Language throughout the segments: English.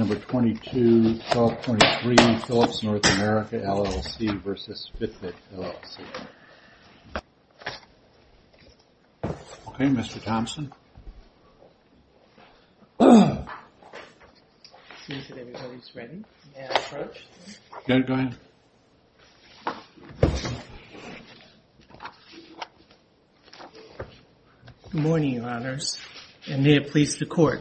Number 22-12-23 Philips North America, LLC v. Fitbit, LLC Okay, Mr. Thompson Good morning, your honors, and may it please the court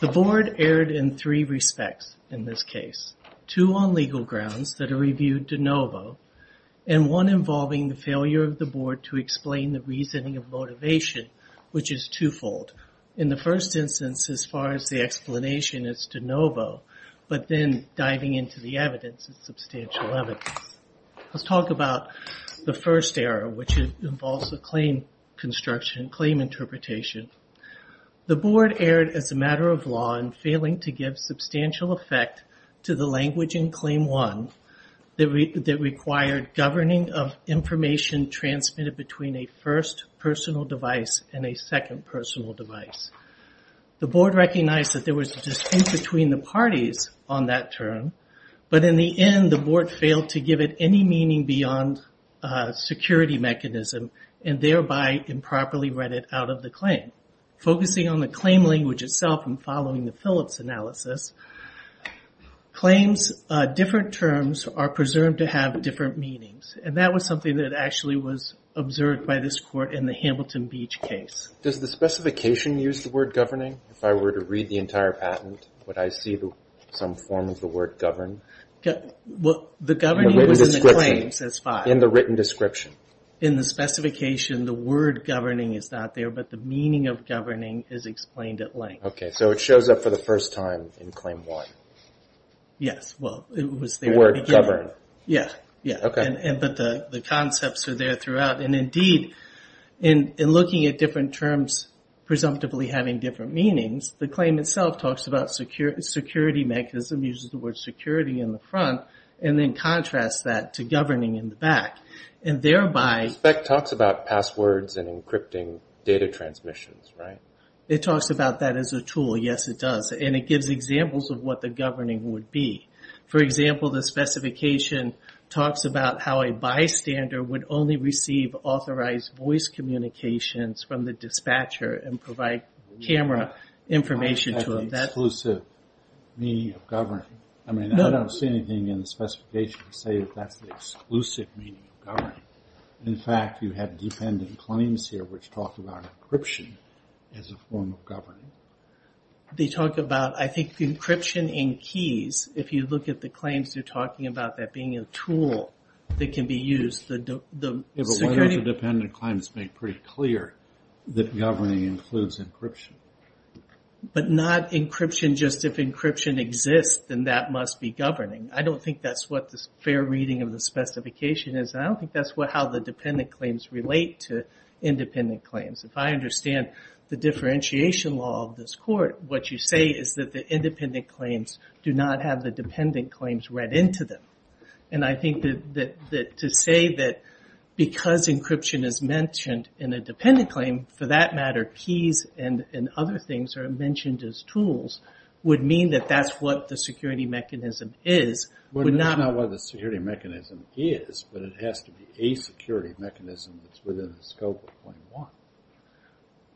The board erred in three respects in this case. Two on legal grounds that are reviewed de novo, and one involving the failure of the board to explain the reasoning of motivation, which is twofold. In the first instance, as far as the explanation, it's de novo, but then diving into the evidence, it's substantial evidence. Let's talk about the first error, which involves a claim construction, claim interpretation. The board erred as a matter of law in failing to give substantial effect to the language in claim one that required governing of information transmitted between a first personal device and a second personal device. The board recognized that there was a dispute between the parties on that term, but in the end, the board failed to give it any meaning beyond security mechanism and thereby improperly read it out of the claim. Focusing on the claim language itself and following the Philips analysis, claims, different terms are presumed to have different meanings, and that was something that actually was observed by this court in the Hamilton Beach case. Does the specification use the word governing? If I were to read the entire patent, would I see some form of the word govern? The governing was in the claims, that's fine. In the written description. In the specification, the word governing is not there, but the meaning of governing is explained at length. Okay, so it shows up for the first time in claim one. Yes, well, it was there at the beginning. The word govern. Yeah, yeah. Okay. But the concepts are there throughout, and indeed, in looking at different terms presumptively having different meanings, the claim itself talks about security mechanism, uses the word security in the front, and then contrasts that to governing in the back. The spec talks about passwords and encrypting data transmissions, right? It talks about that as a tool. Yes, it does. And it gives examples of what the governing would be. For example, the specification talks about how a bystander would only receive authorized voice communications from the dispatcher and provide camera information to him. That's an exclusive meaning of governing. I mean, I don't see anything in the specification to say that that's the exclusive meaning of governing. In fact, you have dependent claims here which talk about encryption as a form of governing. They talk about, I think, encryption in keys. If you look at the claims, they're talking about that being a tool that can be used. But why don't the dependent claims make pretty clear that governing includes encryption? But not encryption just if encryption exists, then that must be governing. I don't think that's what the fair reading of the specification is. I don't think that's how the dependent claims relate to independent claims. If I understand the differentiation law of this court, what you say is that the independent claims do not have the dependent claims read into them. And I think that to say that because encryption is mentioned in a dependent claim, for that matter, keys and other things are mentioned as tools would mean that that's what the security mechanism is. But it's not what the security mechanism is, but it has to be a security mechanism that's within the scope of Claim 1.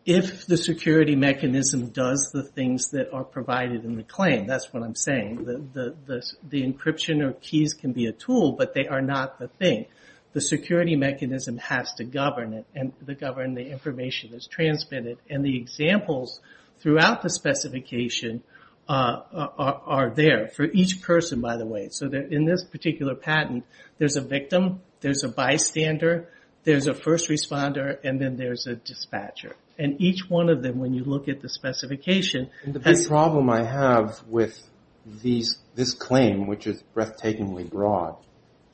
If the security mechanism does the things that are provided in the claim, that's what I'm saying. The encryption of keys can be a tool, but they are not the thing. The security mechanism has to govern it, and to govern the information that's transmitted. And the examples throughout the specification are there, for each person, by the way. In this particular patent, there's a victim, there's a bystander, there's a first responder, and then there's a dispatcher. And each one of them, when you look at the specification... The problem I have with this claim, which is breathtakingly broad,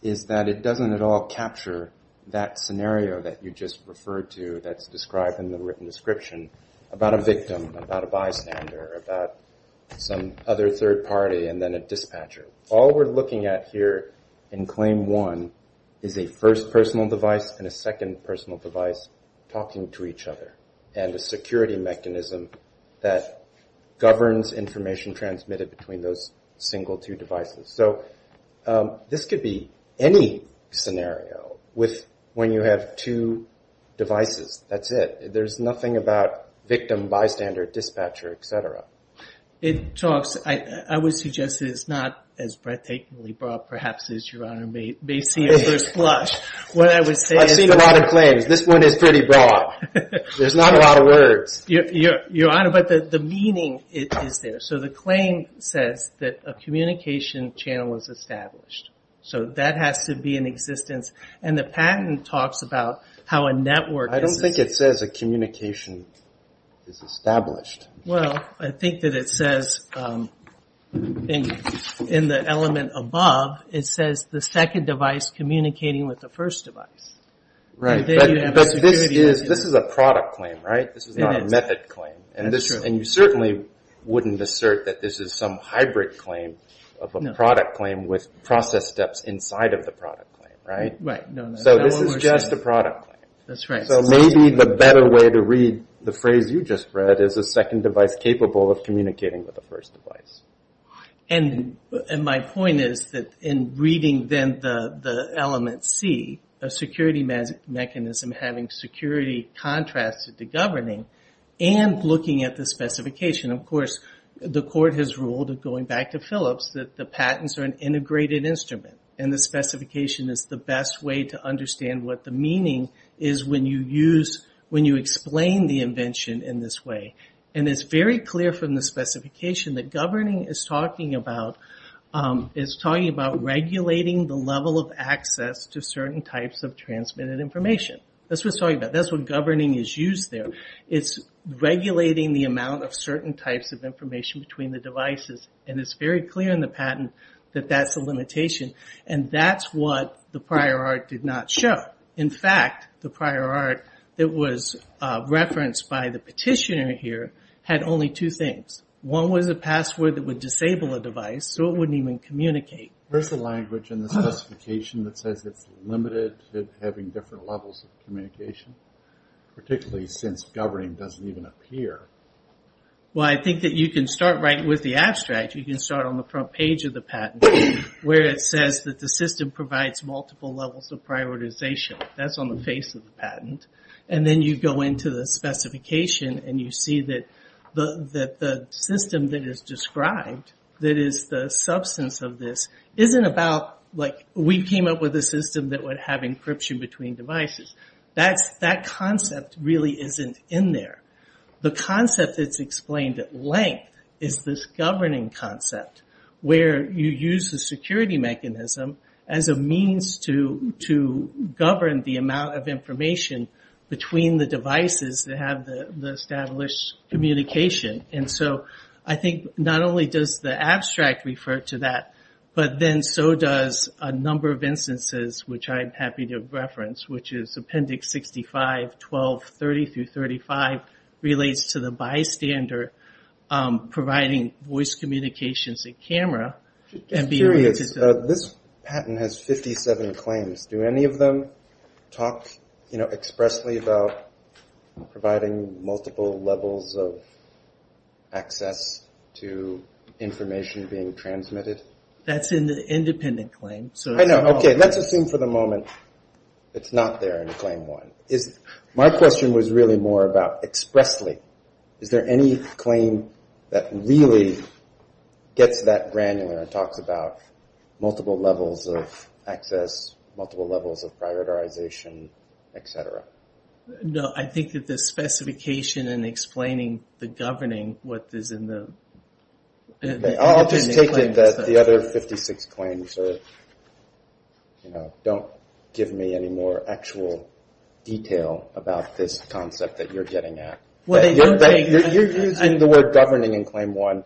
is that it doesn't at all capture that scenario that you just referred to that's described in the written description about a victim, about a bystander, about some other third party, and then a dispatcher. All we're looking at here in Claim 1 is a first personal device and a second personal device talking to each other, and a security mechanism that governs information transmitted between those single two devices. So this could be any scenario when you have two devices. That's it. There's nothing about victim, bystander, dispatcher, et cetera. It talks... I would suggest that it's not as breathtakingly broad, perhaps, as Your Honor may see at first blush. What I would say is... I've seen a lot of claims. This one is pretty broad. There's not a lot of words. Your Honor, but the meaning is there. So the claim says that a communication channel is established. So that has to be in existence. And the patent talks about how a network... I don't think it says a communication is established. Well, I think that it says in the element above, it says the second device communicating with the first device. Right, but this is a product claim, right? This is not a method claim. That's true. And you certainly wouldn't assert that this is some hybrid claim of a product claim with process steps inside of the product claim, right? Right. So this is just a product claim. That's right. So maybe the better way to read the phrase you just read is a second device capable of communicating with the first device. And my point is that in reading then the element C, a security mechanism having security contrasted to governing and looking at the specification. Of course, the court has ruled, going back to Phillips, that the patents are an integrated instrument and the specification is the best way to understand what the meaning is when you explain the invention in this way. And it's very clear from the specification that governing is talking about regulating the level of access to certain types of transmitted information. That's what it's talking about. It's regulating the amount of certain types of information between the devices. And it's very clear in the patent that that's a limitation. And that's what the prior art did not show. In fact, the prior art that was referenced by the petitioner here had only two things. One was a password that would disable a device so it wouldn't even communicate. Where's the language in the specification that says it's limited to having different levels of communication, particularly since governing doesn't even appear? Well, I think that you can start right with the abstract. You can start on the front page of the patent where it says that the system provides multiple levels of prioritization. That's on the face of the patent. And then you go into the specification and you see that the system that is described, that is the substance of this, isn't about like we came up with a system that would have encryption between devices. That concept really isn't in there. The concept that's explained at length is this governing concept where you use the security mechanism as a means to govern the amount of information between the devices that have the established communication. And so I think not only does the abstract refer to that, but then so does a number of instances, which I'm happy to reference, which is Appendix 65, 12, 30 through 35, relates to the bystander providing voice communications and camera. This patent has 57 claims. Do any of them talk expressly about providing multiple levels of access to information being transmitted? That's an independent claim. Okay, let's assume for the moment it's not there in claim one. My question was really more about expressly. Is there any claim that really gets that granular and talks about multiple levels of access, multiple levels of prioritization, et cetera? No, I think that the specification in explaining the governing, what is in the I'll just take it that the other 56 claims don't give me any more actual detail about this concept that you're getting at. You're using the word governing in claim one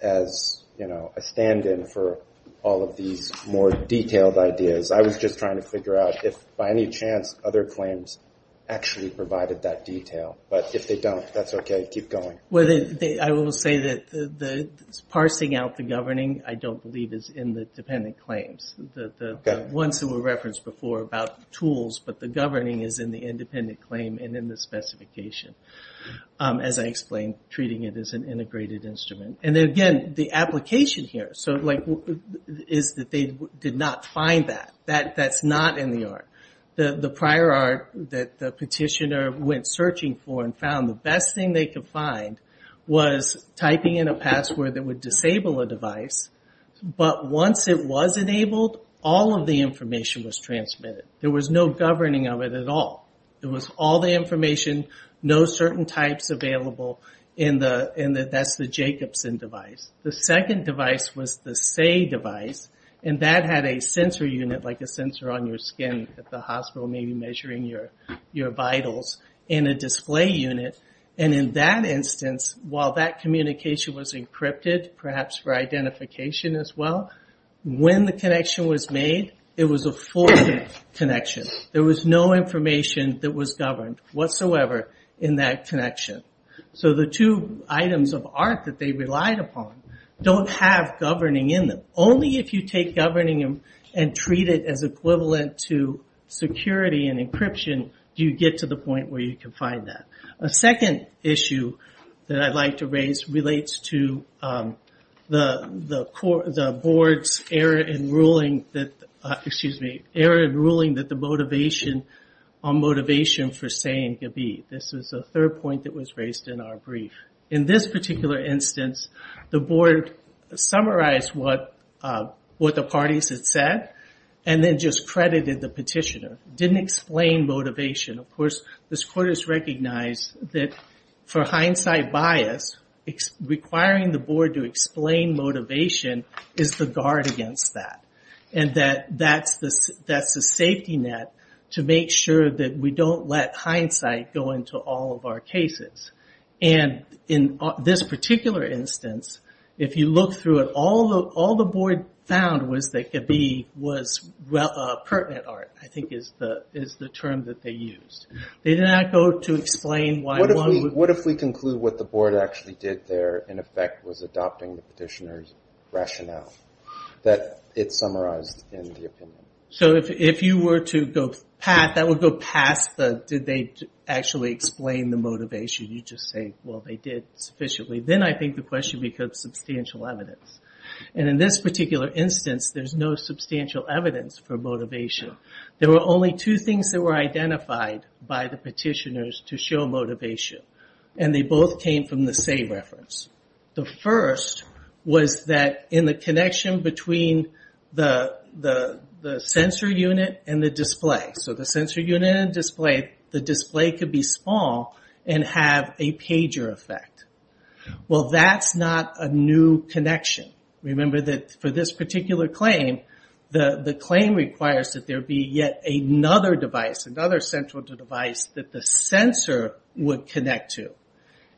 as a stand-in for all of these more detailed ideas. I was just trying to figure out if by any chance other claims actually provided that detail. But if they don't, that's okay. Keep going. I will say that parsing out the governing I don't believe is in the dependent claims. The ones that were referenced before about tools, but the governing is in the independent claim and in the specification. As I explained, treating it as an integrated instrument. Again, the application here is that they did not find that. That's not in the art. The prior art that the petitioner went searching for and found, the best thing they could find was typing in a password that would disable a device. But once it was enabled, all of the information was transmitted. There was no governing of it at all. It was all the information, no certain types available, and that's the Jacobson device. The second device was the Say device, and that had a sensor unit, like a sensor on your skin at the hospital, maybe measuring your vitals, and a display unit. In that instance, while that communication was encrypted, perhaps for identification as well, when the connection was made, it was a forward connection. There was no information that was governed whatsoever in that connection. The two items of art that they relied upon don't have governing in them. Only if you take governing and treat it as equivalent to security and encryption do you get to the point where you can find that. A second issue that I'd like to raise relates to the board's error in ruling that the motivation on motivation for saying Gabi. This is the third point that was raised in our brief. In this particular instance, the board summarized what the parties had said and then just credited the petitioner. It didn't explain motivation. Of course, this court has recognized that for hindsight bias, requiring the board to explain motivation is the guard against that, and that that's the safety net to make sure that we don't let hindsight go into all of our cases. In this particular instance, if you look through it, all the board found was that Gabi was pertinent art, I think is the term that they used. They did not go to explain why one would... What if we conclude what the board actually did there, in effect, was adopting the petitioner's rationale that it summarized in the opinion? If you were to go past, that would go past the did they actually explain the motivation. You just say, well, they did sufficiently. Then I think the question becomes substantial evidence. In this particular instance, there's no substantial evidence for motivation. There were only two things that were identified by the petitioners to show motivation, and they both came from the same reference. The first was that in the connection between the sensor unit and the display, so the sensor unit and display, the display could be small and have a pager effect. Well, that's not a new connection. Remember that for this particular claim, the claim requires that there be yet another device, another central device that the sensor would connect to.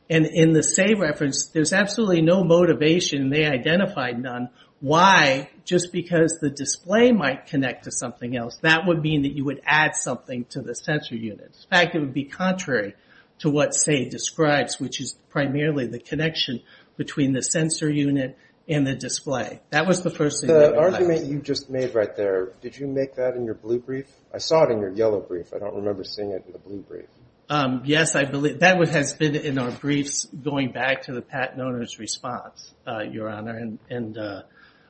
In the Say reference, there's absolutely no motivation. They identified none. Why? Just because the display might connect to something else. That would mean that you would add something to the sensor unit. In fact, it would be contrary to what Say describes, which is primarily the connection between the sensor unit and the display. That was the first thing that they highlighted. The argument you just made right there, did you make that in your blue brief? I saw it in your yellow brief. I don't remember seeing it in the blue brief. Yes, that has been in our briefs going back to the patent owner's response, Your Honor, and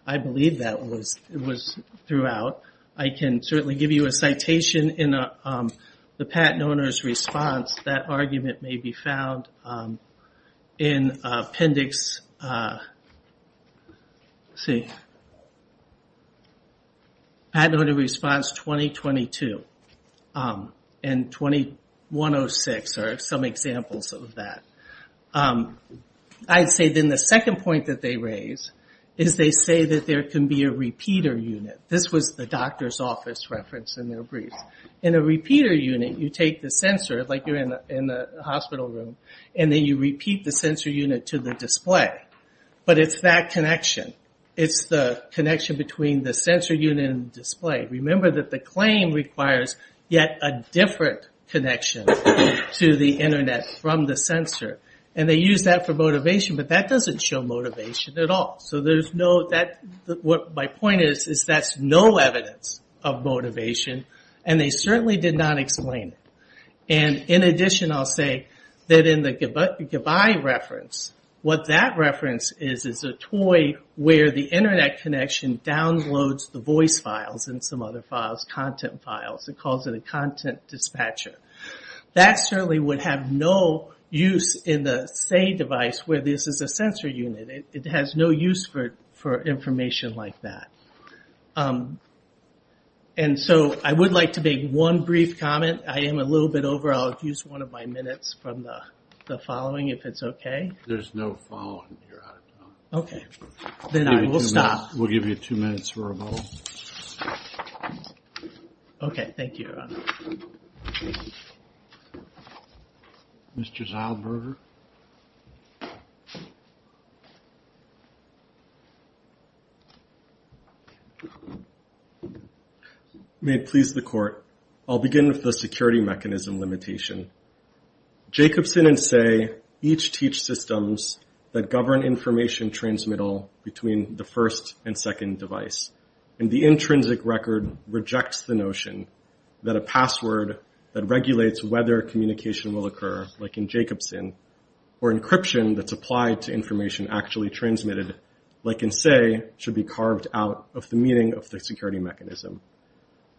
I believe that was throughout. I can certainly give you a citation in the patent owner's response. That argument may be found in appendix, let's see, patent owner response 2022 and 2106 are some examples of that. I'd say then the second point that they raise is they say that there can be a repeater unit. This was the doctor's office reference in their brief. In a repeater unit, you take the sensor, like you're in a hospital room, and then you repeat the sensor unit to the display. But it's that connection. It's the connection between the sensor unit and the display. Remember that the claim requires yet a different connection to the Internet from the sensor. They use that for motivation, but that doesn't show motivation at all. My point is that's no evidence of motivation, and they certainly did not explain it. In addition, I'll say that in the Goodbye reference, what that reference is is a toy where the Internet connection downloads the voice files and some other files, content files. It calls it a content dispatcher. That certainly would have no use in the Say device where this is a sensor unit. It has no use for information like that. And so I would like to make one brief comment. I am a little bit over. I'll use one of my minutes from the following if it's okay. There's no following. Okay. Then I will stop. We'll give you two minutes for a vote. Okay, thank you. Mr. Zylberger. May it please the Court, I'll begin with the security mechanism limitation. Jacobson and Say each teach systems that govern information transmittal between the first and second device, and the intrinsic record rejects the notion that a password that regulates whether communication will occur, like in Jacobson, or encryption that's applied to information actually transmitted, like in Say, should be carved out of the meaning of the security mechanism.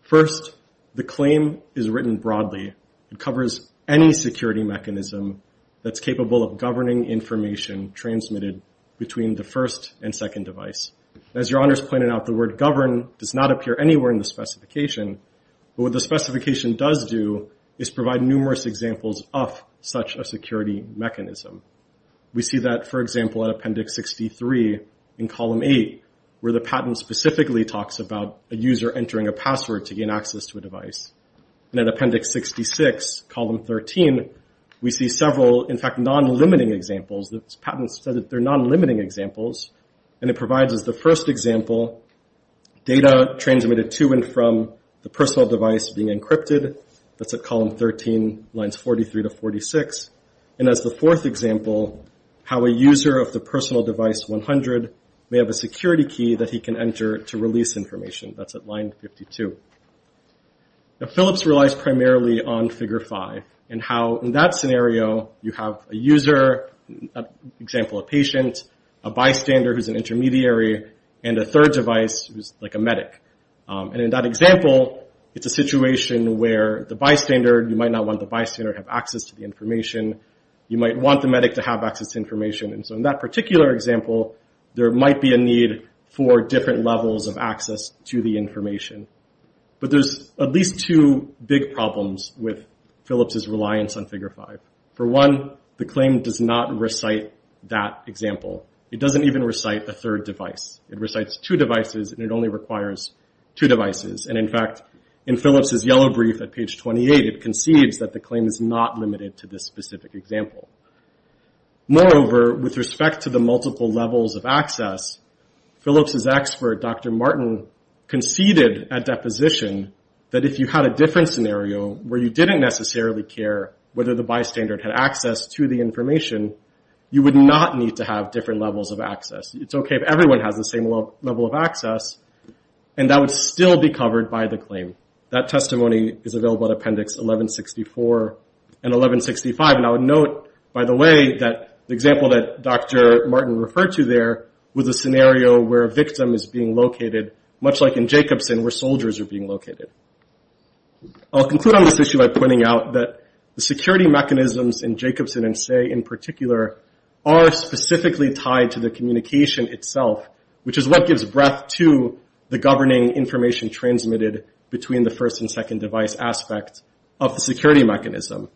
First, the claim is written broadly. It covers any security mechanism that's capable of governing information transmitted between the first and second device. As Your Honor's pointed out, the word govern does not appear anywhere in the specification, but what the specification does do is provide numerous examples of such a security mechanism. We see that, for example, at Appendix 63 in Column 8, where the patent specifically talks about a user entering a password to gain access to a device. And at Appendix 66, Column 13, we see several, in fact, non-limiting examples. The patent said that they're non-limiting examples, and it provides, as the first example, data transmitted to and from the personal device being encrypted. That's at Column 13, Lines 43 to 46. And as the fourth example, how a user of the personal device 100 may have a security key that he can enter to release information. That's at Line 52. Now, Phillips relies primarily on Figure 5 and how, in that scenario, you have a user, for example, a patient, a bystander who's an intermediary, and a third device who's like a medic. And in that example, it's a situation where the bystander, you might not want the bystander to have access to the information. You might want the medic to have access to information. And so in that particular example, there might be a need for different levels of access to the information. But there's at least two big problems with Phillips's reliance on Figure 5. For one, the claim does not recite that example. It doesn't even recite a third device. It recites two devices, and it only requires two devices. And, in fact, in Phillips's yellow brief at page 28, it conceives that the claim is not limited to this specific example. Moreover, with respect to the multiple levels of access, Phillips's expert, Dr. Martin, conceded at deposition that if you had a different scenario where you didn't necessarily care whether the bystander had access to the information, you would not need to have different levels of access. It's okay if everyone has the same level of access, and that would still be covered by the claim. That testimony is available at Appendix 1164 and 1165. Now, note, by the way, that the example that Dr. Martin referred to there was a scenario where a victim is being located, much like in Jacobson, where soldiers are being located. I'll conclude on this issue by pointing out that the security mechanisms in Jacobson and Say in particular are specifically tied to the communication itself, which is what gives breadth to the governing information transmitted between the first and second device aspects of the security mechanism.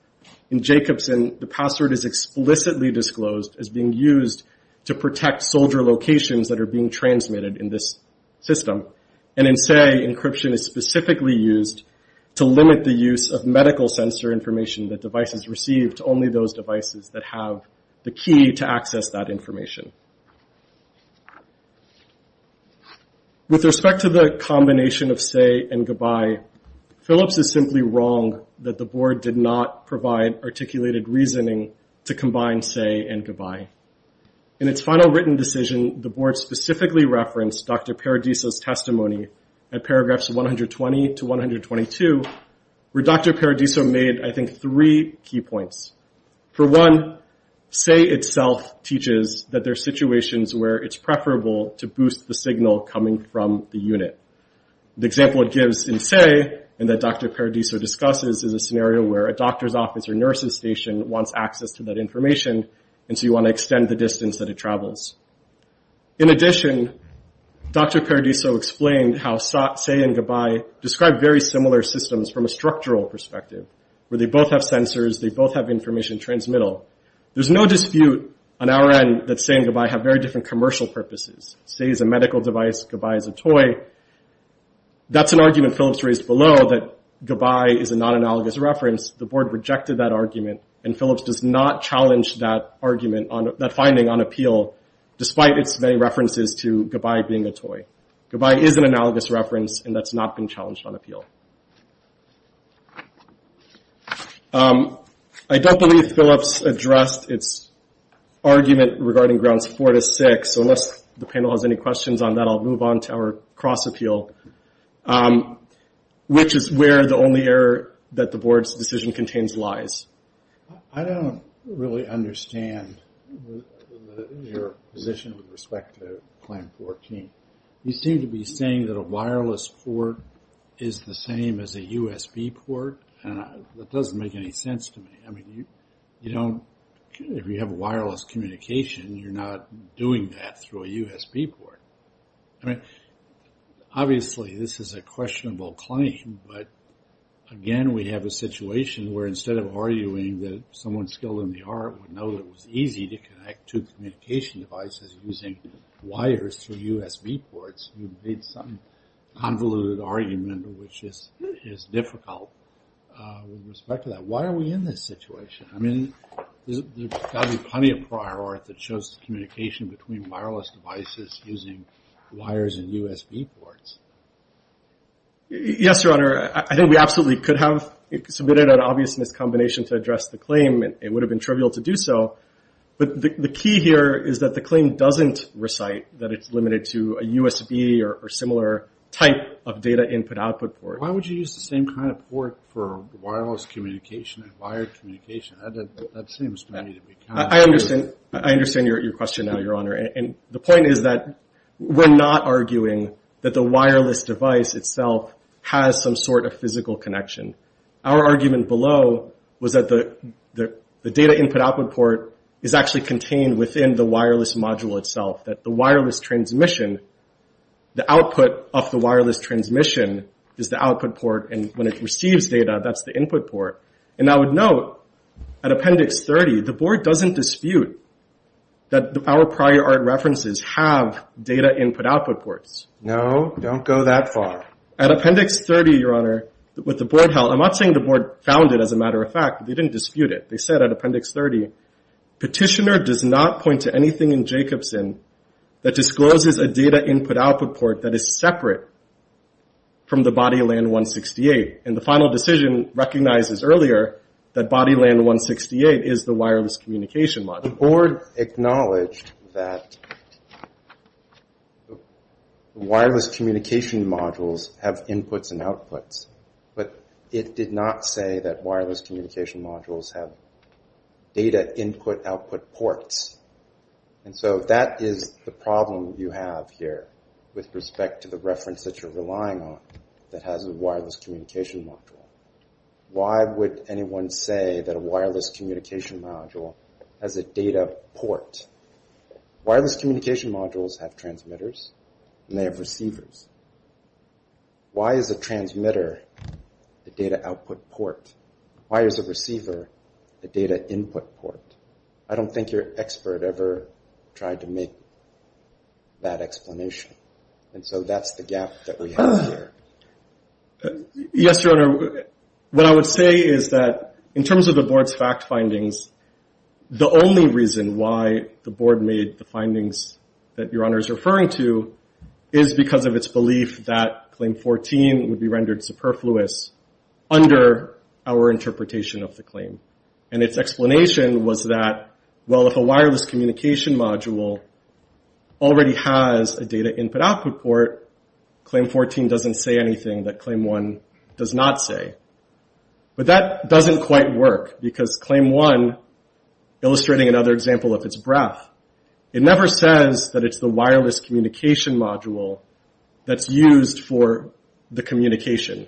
In Jacobson, the password is explicitly disclosed as being used to protect soldier locations that are being transmitted in this system. And in Say, encryption is specifically used to limit the use of medical sensor information that devices receive to only those devices that have the key to access that information. With respect to the combination of Say and Goodbye, Phillips is simply wrong that the board did not provide articulated reasoning to combine Say and Goodbye. In its final written decision, the board specifically referenced Dr. Paradiso's testimony at paragraphs 120 to 122, where Dr. Paradiso made, I think, three key points. For one, Say itself teaches that there are situations where it's preferable to boost the signal coming from the unit. The example it gives in Say, and that Dr. Paradiso discusses, is a scenario where a doctor's office or nurse's station wants access to that information, and so you want to extend the distance that it travels. In addition, Dr. Paradiso explained how Say and Goodbye describe very similar systems from a structural perspective, where they both have sensors, they both have information transmittal. There's no dispute on our end that Say and Goodbye have very different commercial purposes. Say is a medical device, Goodbye is a toy. That's an argument Phillips raised below, that Goodbye is a non-analogous reference. The board rejected that argument, and Phillips does not challenge that finding on appeal, despite its many references to Goodbye being a toy. Goodbye is an analogous reference, and that's not been challenged on appeal. I don't believe Phillips addressed its argument regarding grounds four to six, so unless the panel has any questions on that, I'll move on to our cross-appeal, which is where the only error that the board's decision contains lies. I don't really understand your position with respect to plan 14. You seem to be saying that a wireless port is the same as a USB port, and that doesn't make any sense to me. If you have wireless communication, you're not doing that through a USB port. Obviously, this is a questionable claim, but again, we have a situation where instead of arguing that someone skilled in the art would know that it was easy to connect two communication devices using wires through USB ports, you've made some convoluted argument, which is difficult with respect to that. Why are we in this situation? There's got to be plenty of prior art that shows communication between wireless devices using wires and USB ports. Yes, Your Honor. I think we absolutely could have submitted an obvious miscombination to address the claim. It would have been trivial to do so, but the key here is that the claim doesn't recite that it's limited to a USB or similar type of data input-output port. Why would you use the same kind of port for wireless communication and wired communication? That seems to me to be counterintuitive. I understand your question now, Your Honor. The point is that we're not arguing that the wireless device itself has some sort of physical connection. Our argument below was that the data input-output port is actually contained within the wireless module itself, that the wireless transmission, the output of the wireless transmission is the output port, and when it receives data, that's the input port. And I would note, at Appendix 30, the Board doesn't dispute that our prior art references have data input-output ports. No, don't go that far. At Appendix 30, Your Honor, what the Board held, I'm not saying the Board found it as a matter of fact, but they didn't dispute it. They said at Appendix 30, Petitioner does not point to anything in Jacobson that discloses a data input-output port that is separate from the BodyLAN168. And the final decision recognizes earlier that BodyLAN168 is the wireless communication module. The Board acknowledged that wireless communication modules have inputs and outputs, but it did not say that wireless communication modules have data input-output ports. And so that is the problem you have here with respect to the reference that you're relying on that has a wireless communication module. Why would anyone say that a wireless communication module has a data port? Wireless communication modules have transmitters and they have receivers. Why is a transmitter the data output port? Why is a receiver the data input port? I don't think your expert ever tried to make that explanation. And so that's the gap that we have here. Yes, Your Honor. What I would say is that in terms of the Board's fact findings, the only reason why the Board made the findings that Your Honor is referring to is because of its belief that Claim 14 would be rendered superfluous under our interpretation of the claim. And its explanation was that, well, if a wireless communication module already has a data input-output port, Claim 14 doesn't say anything that Claim 1 does not say. But that doesn't quite work because Claim 1, illustrating another example of its breadth, it never says that it's the wireless communication module that's used for the communication.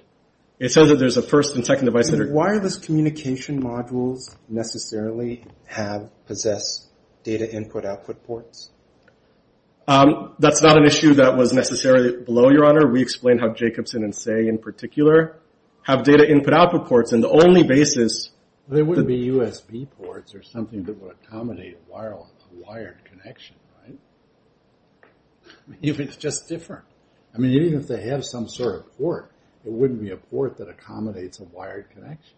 It says that there's a first and second device that are... Do wireless communication modules necessarily possess data input-output ports? That's not an issue that was necessarily below, Your Honor. We explained how Jacobson and Say in particular have data input-output ports. And the only basis... They wouldn't be USB ports or something that would accommodate a wired connection, right? If it's just different. I mean, even if they have some sort of port, it wouldn't be a port that accommodates a wired connection.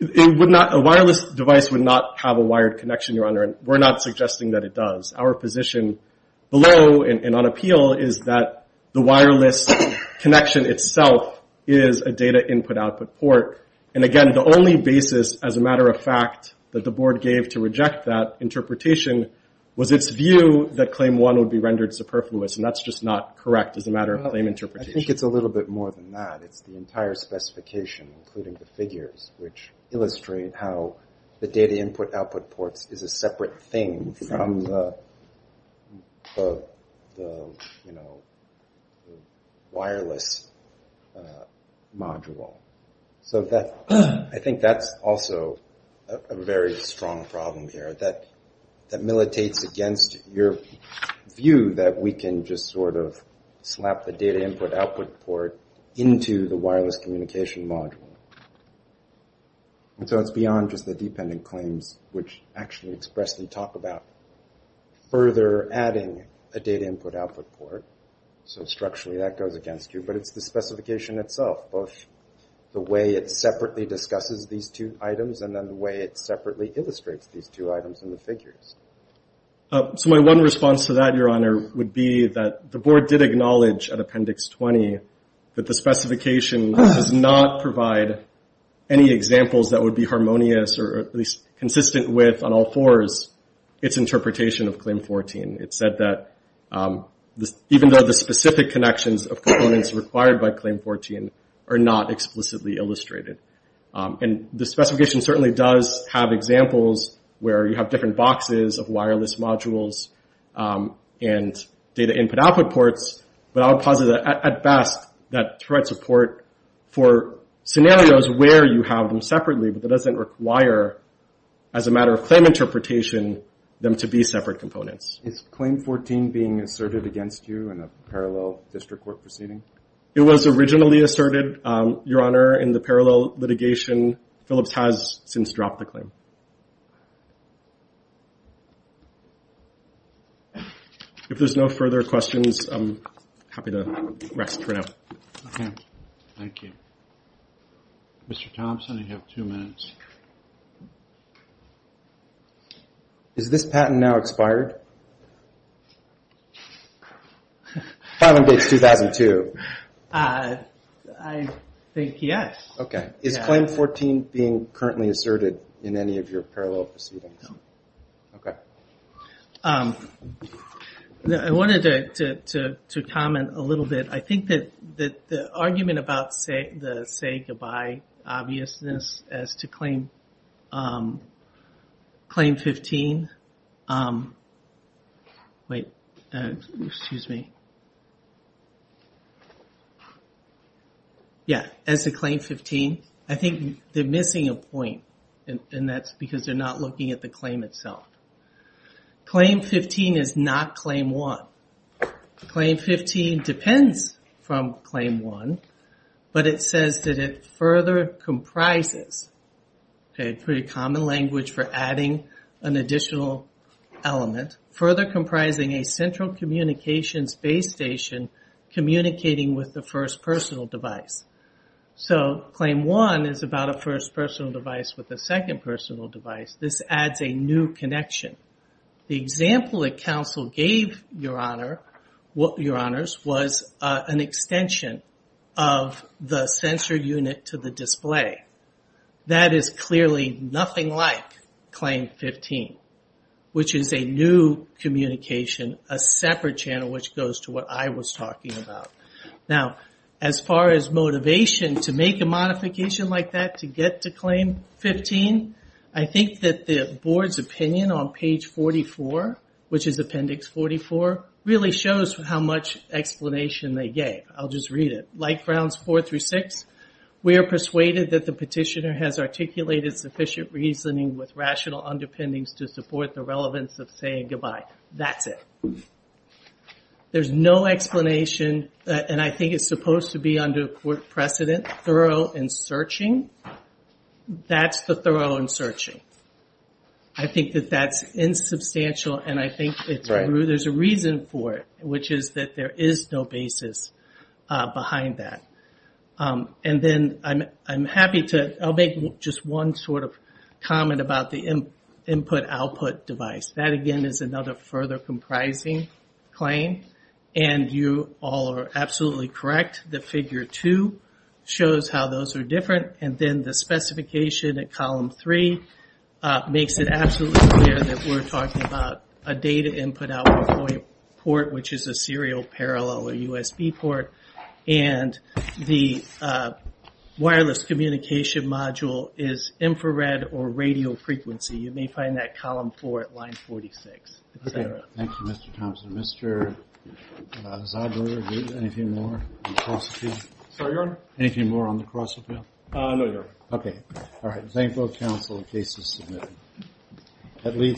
A wireless device would not have a wired connection, Your Honor. We're not suggesting that it does. Our position below and on appeal is that the wireless connection itself is a data input-output port. And, again, the only basis, as a matter of fact, that the board gave to reject that interpretation was its view that Claim 1 would be rendered superfluous. And that's just not correct as a matter of claim interpretation. I think it's a little bit more than that. It's the entire specification, including the figures, which illustrate how the data input-output ports is a separate thing from the wireless module. So I think that's also a very strong problem here. That militates against your view that we can just sort of slap the data input-output port into the wireless communication module. So it's beyond just the dependent claims, which actually expressly talk about further adding a data input-output port. So, structurally, that goes against you. But it's the specification itself, both the way it separately discusses these two items and then the way it separately illustrates these two items in the figures. So my one response to that, Your Honor, would be that the board did acknowledge at Appendix 20 that the specification does not provide any examples that would be harmonious or at least consistent with, on all fours, its interpretation of Claim 14. It said that even though the specific connections of components required by Claim 14 are not explicitly illustrated. And the specification certainly does have examples where you have different boxes of wireless modules and data input-output ports. But I would posit that, at best, that provides support for scenarios where you have them separately, but that doesn't require, as a matter of claim interpretation, them to be separate components. Is Claim 14 being asserted against you in a parallel district court proceeding? It was originally asserted, Your Honor, in the parallel litigation. Phillips has since dropped the claim. If there's no further questions, I'm happy to rest for now. Okay. Thank you. Mr. Thompson, you have two minutes. Is this patent now expired? Filing dates 2002. I think yes. Okay. Is Claim 14 being currently asserted in any of your parallel proceedings? No. Okay. I wanted to comment a little bit. I think that the argument about the say-goodbye obviousness as to Claim 15... Wait. Excuse me. Yeah. As to Claim 15, I think they're missing a point. And that's because they're not looking at the claim itself. Claim 15 is not Claim 1. Claim 15 depends from Claim 1, but it says that it further comprises, a pretty common language for adding an additional element, further comprising a central communications base station communicating with the first personal device. So Claim 1 is about a first personal device with a second personal device. This adds a new connection. The example that counsel gave, Your Honors, was an extension of the sensor unit to the display. That is clearly nothing like Claim 15, which is a new communication, a separate channel which goes to what I was talking about. Now, as far as motivation to make a modification like that to get to Claim 15, I think that the board's opinion on page 44, which is Appendix 44, really shows how much explanation they gave. I'll just read it. Like Grounds 4 through 6, we are persuaded that the petitioner has articulated sufficient reasoning with rational underpinnings to support the relevance of saying goodbye. That's it. There's no explanation, and I think it's supposed to be under court precedent, thorough and searching. That's the thorough and searching. I think that that's insubstantial, and I think there's a reason for it, which is that there is no basis behind that. And then I'm happy to make just one sort of comment about the input-output device. That, again, is another further comprising claim, and you all are absolutely correct. The Figure 2 shows how those are different, and then the specification at Column 3 makes it absolutely clear that we're talking about a data input-output port, which is a serial parallel or USB port, and the wireless communication module is infrared or radio frequency. You may find that at Column 4 at Line 46. Okay. Thank you, Mr. Thompson. Mr. Zadler, anything more on the cross-appeal? Sorry, Your Honor? Anything more on the cross-appeal? No, Your Honor. Okay. All right. Thank both counsel. The case is submitted.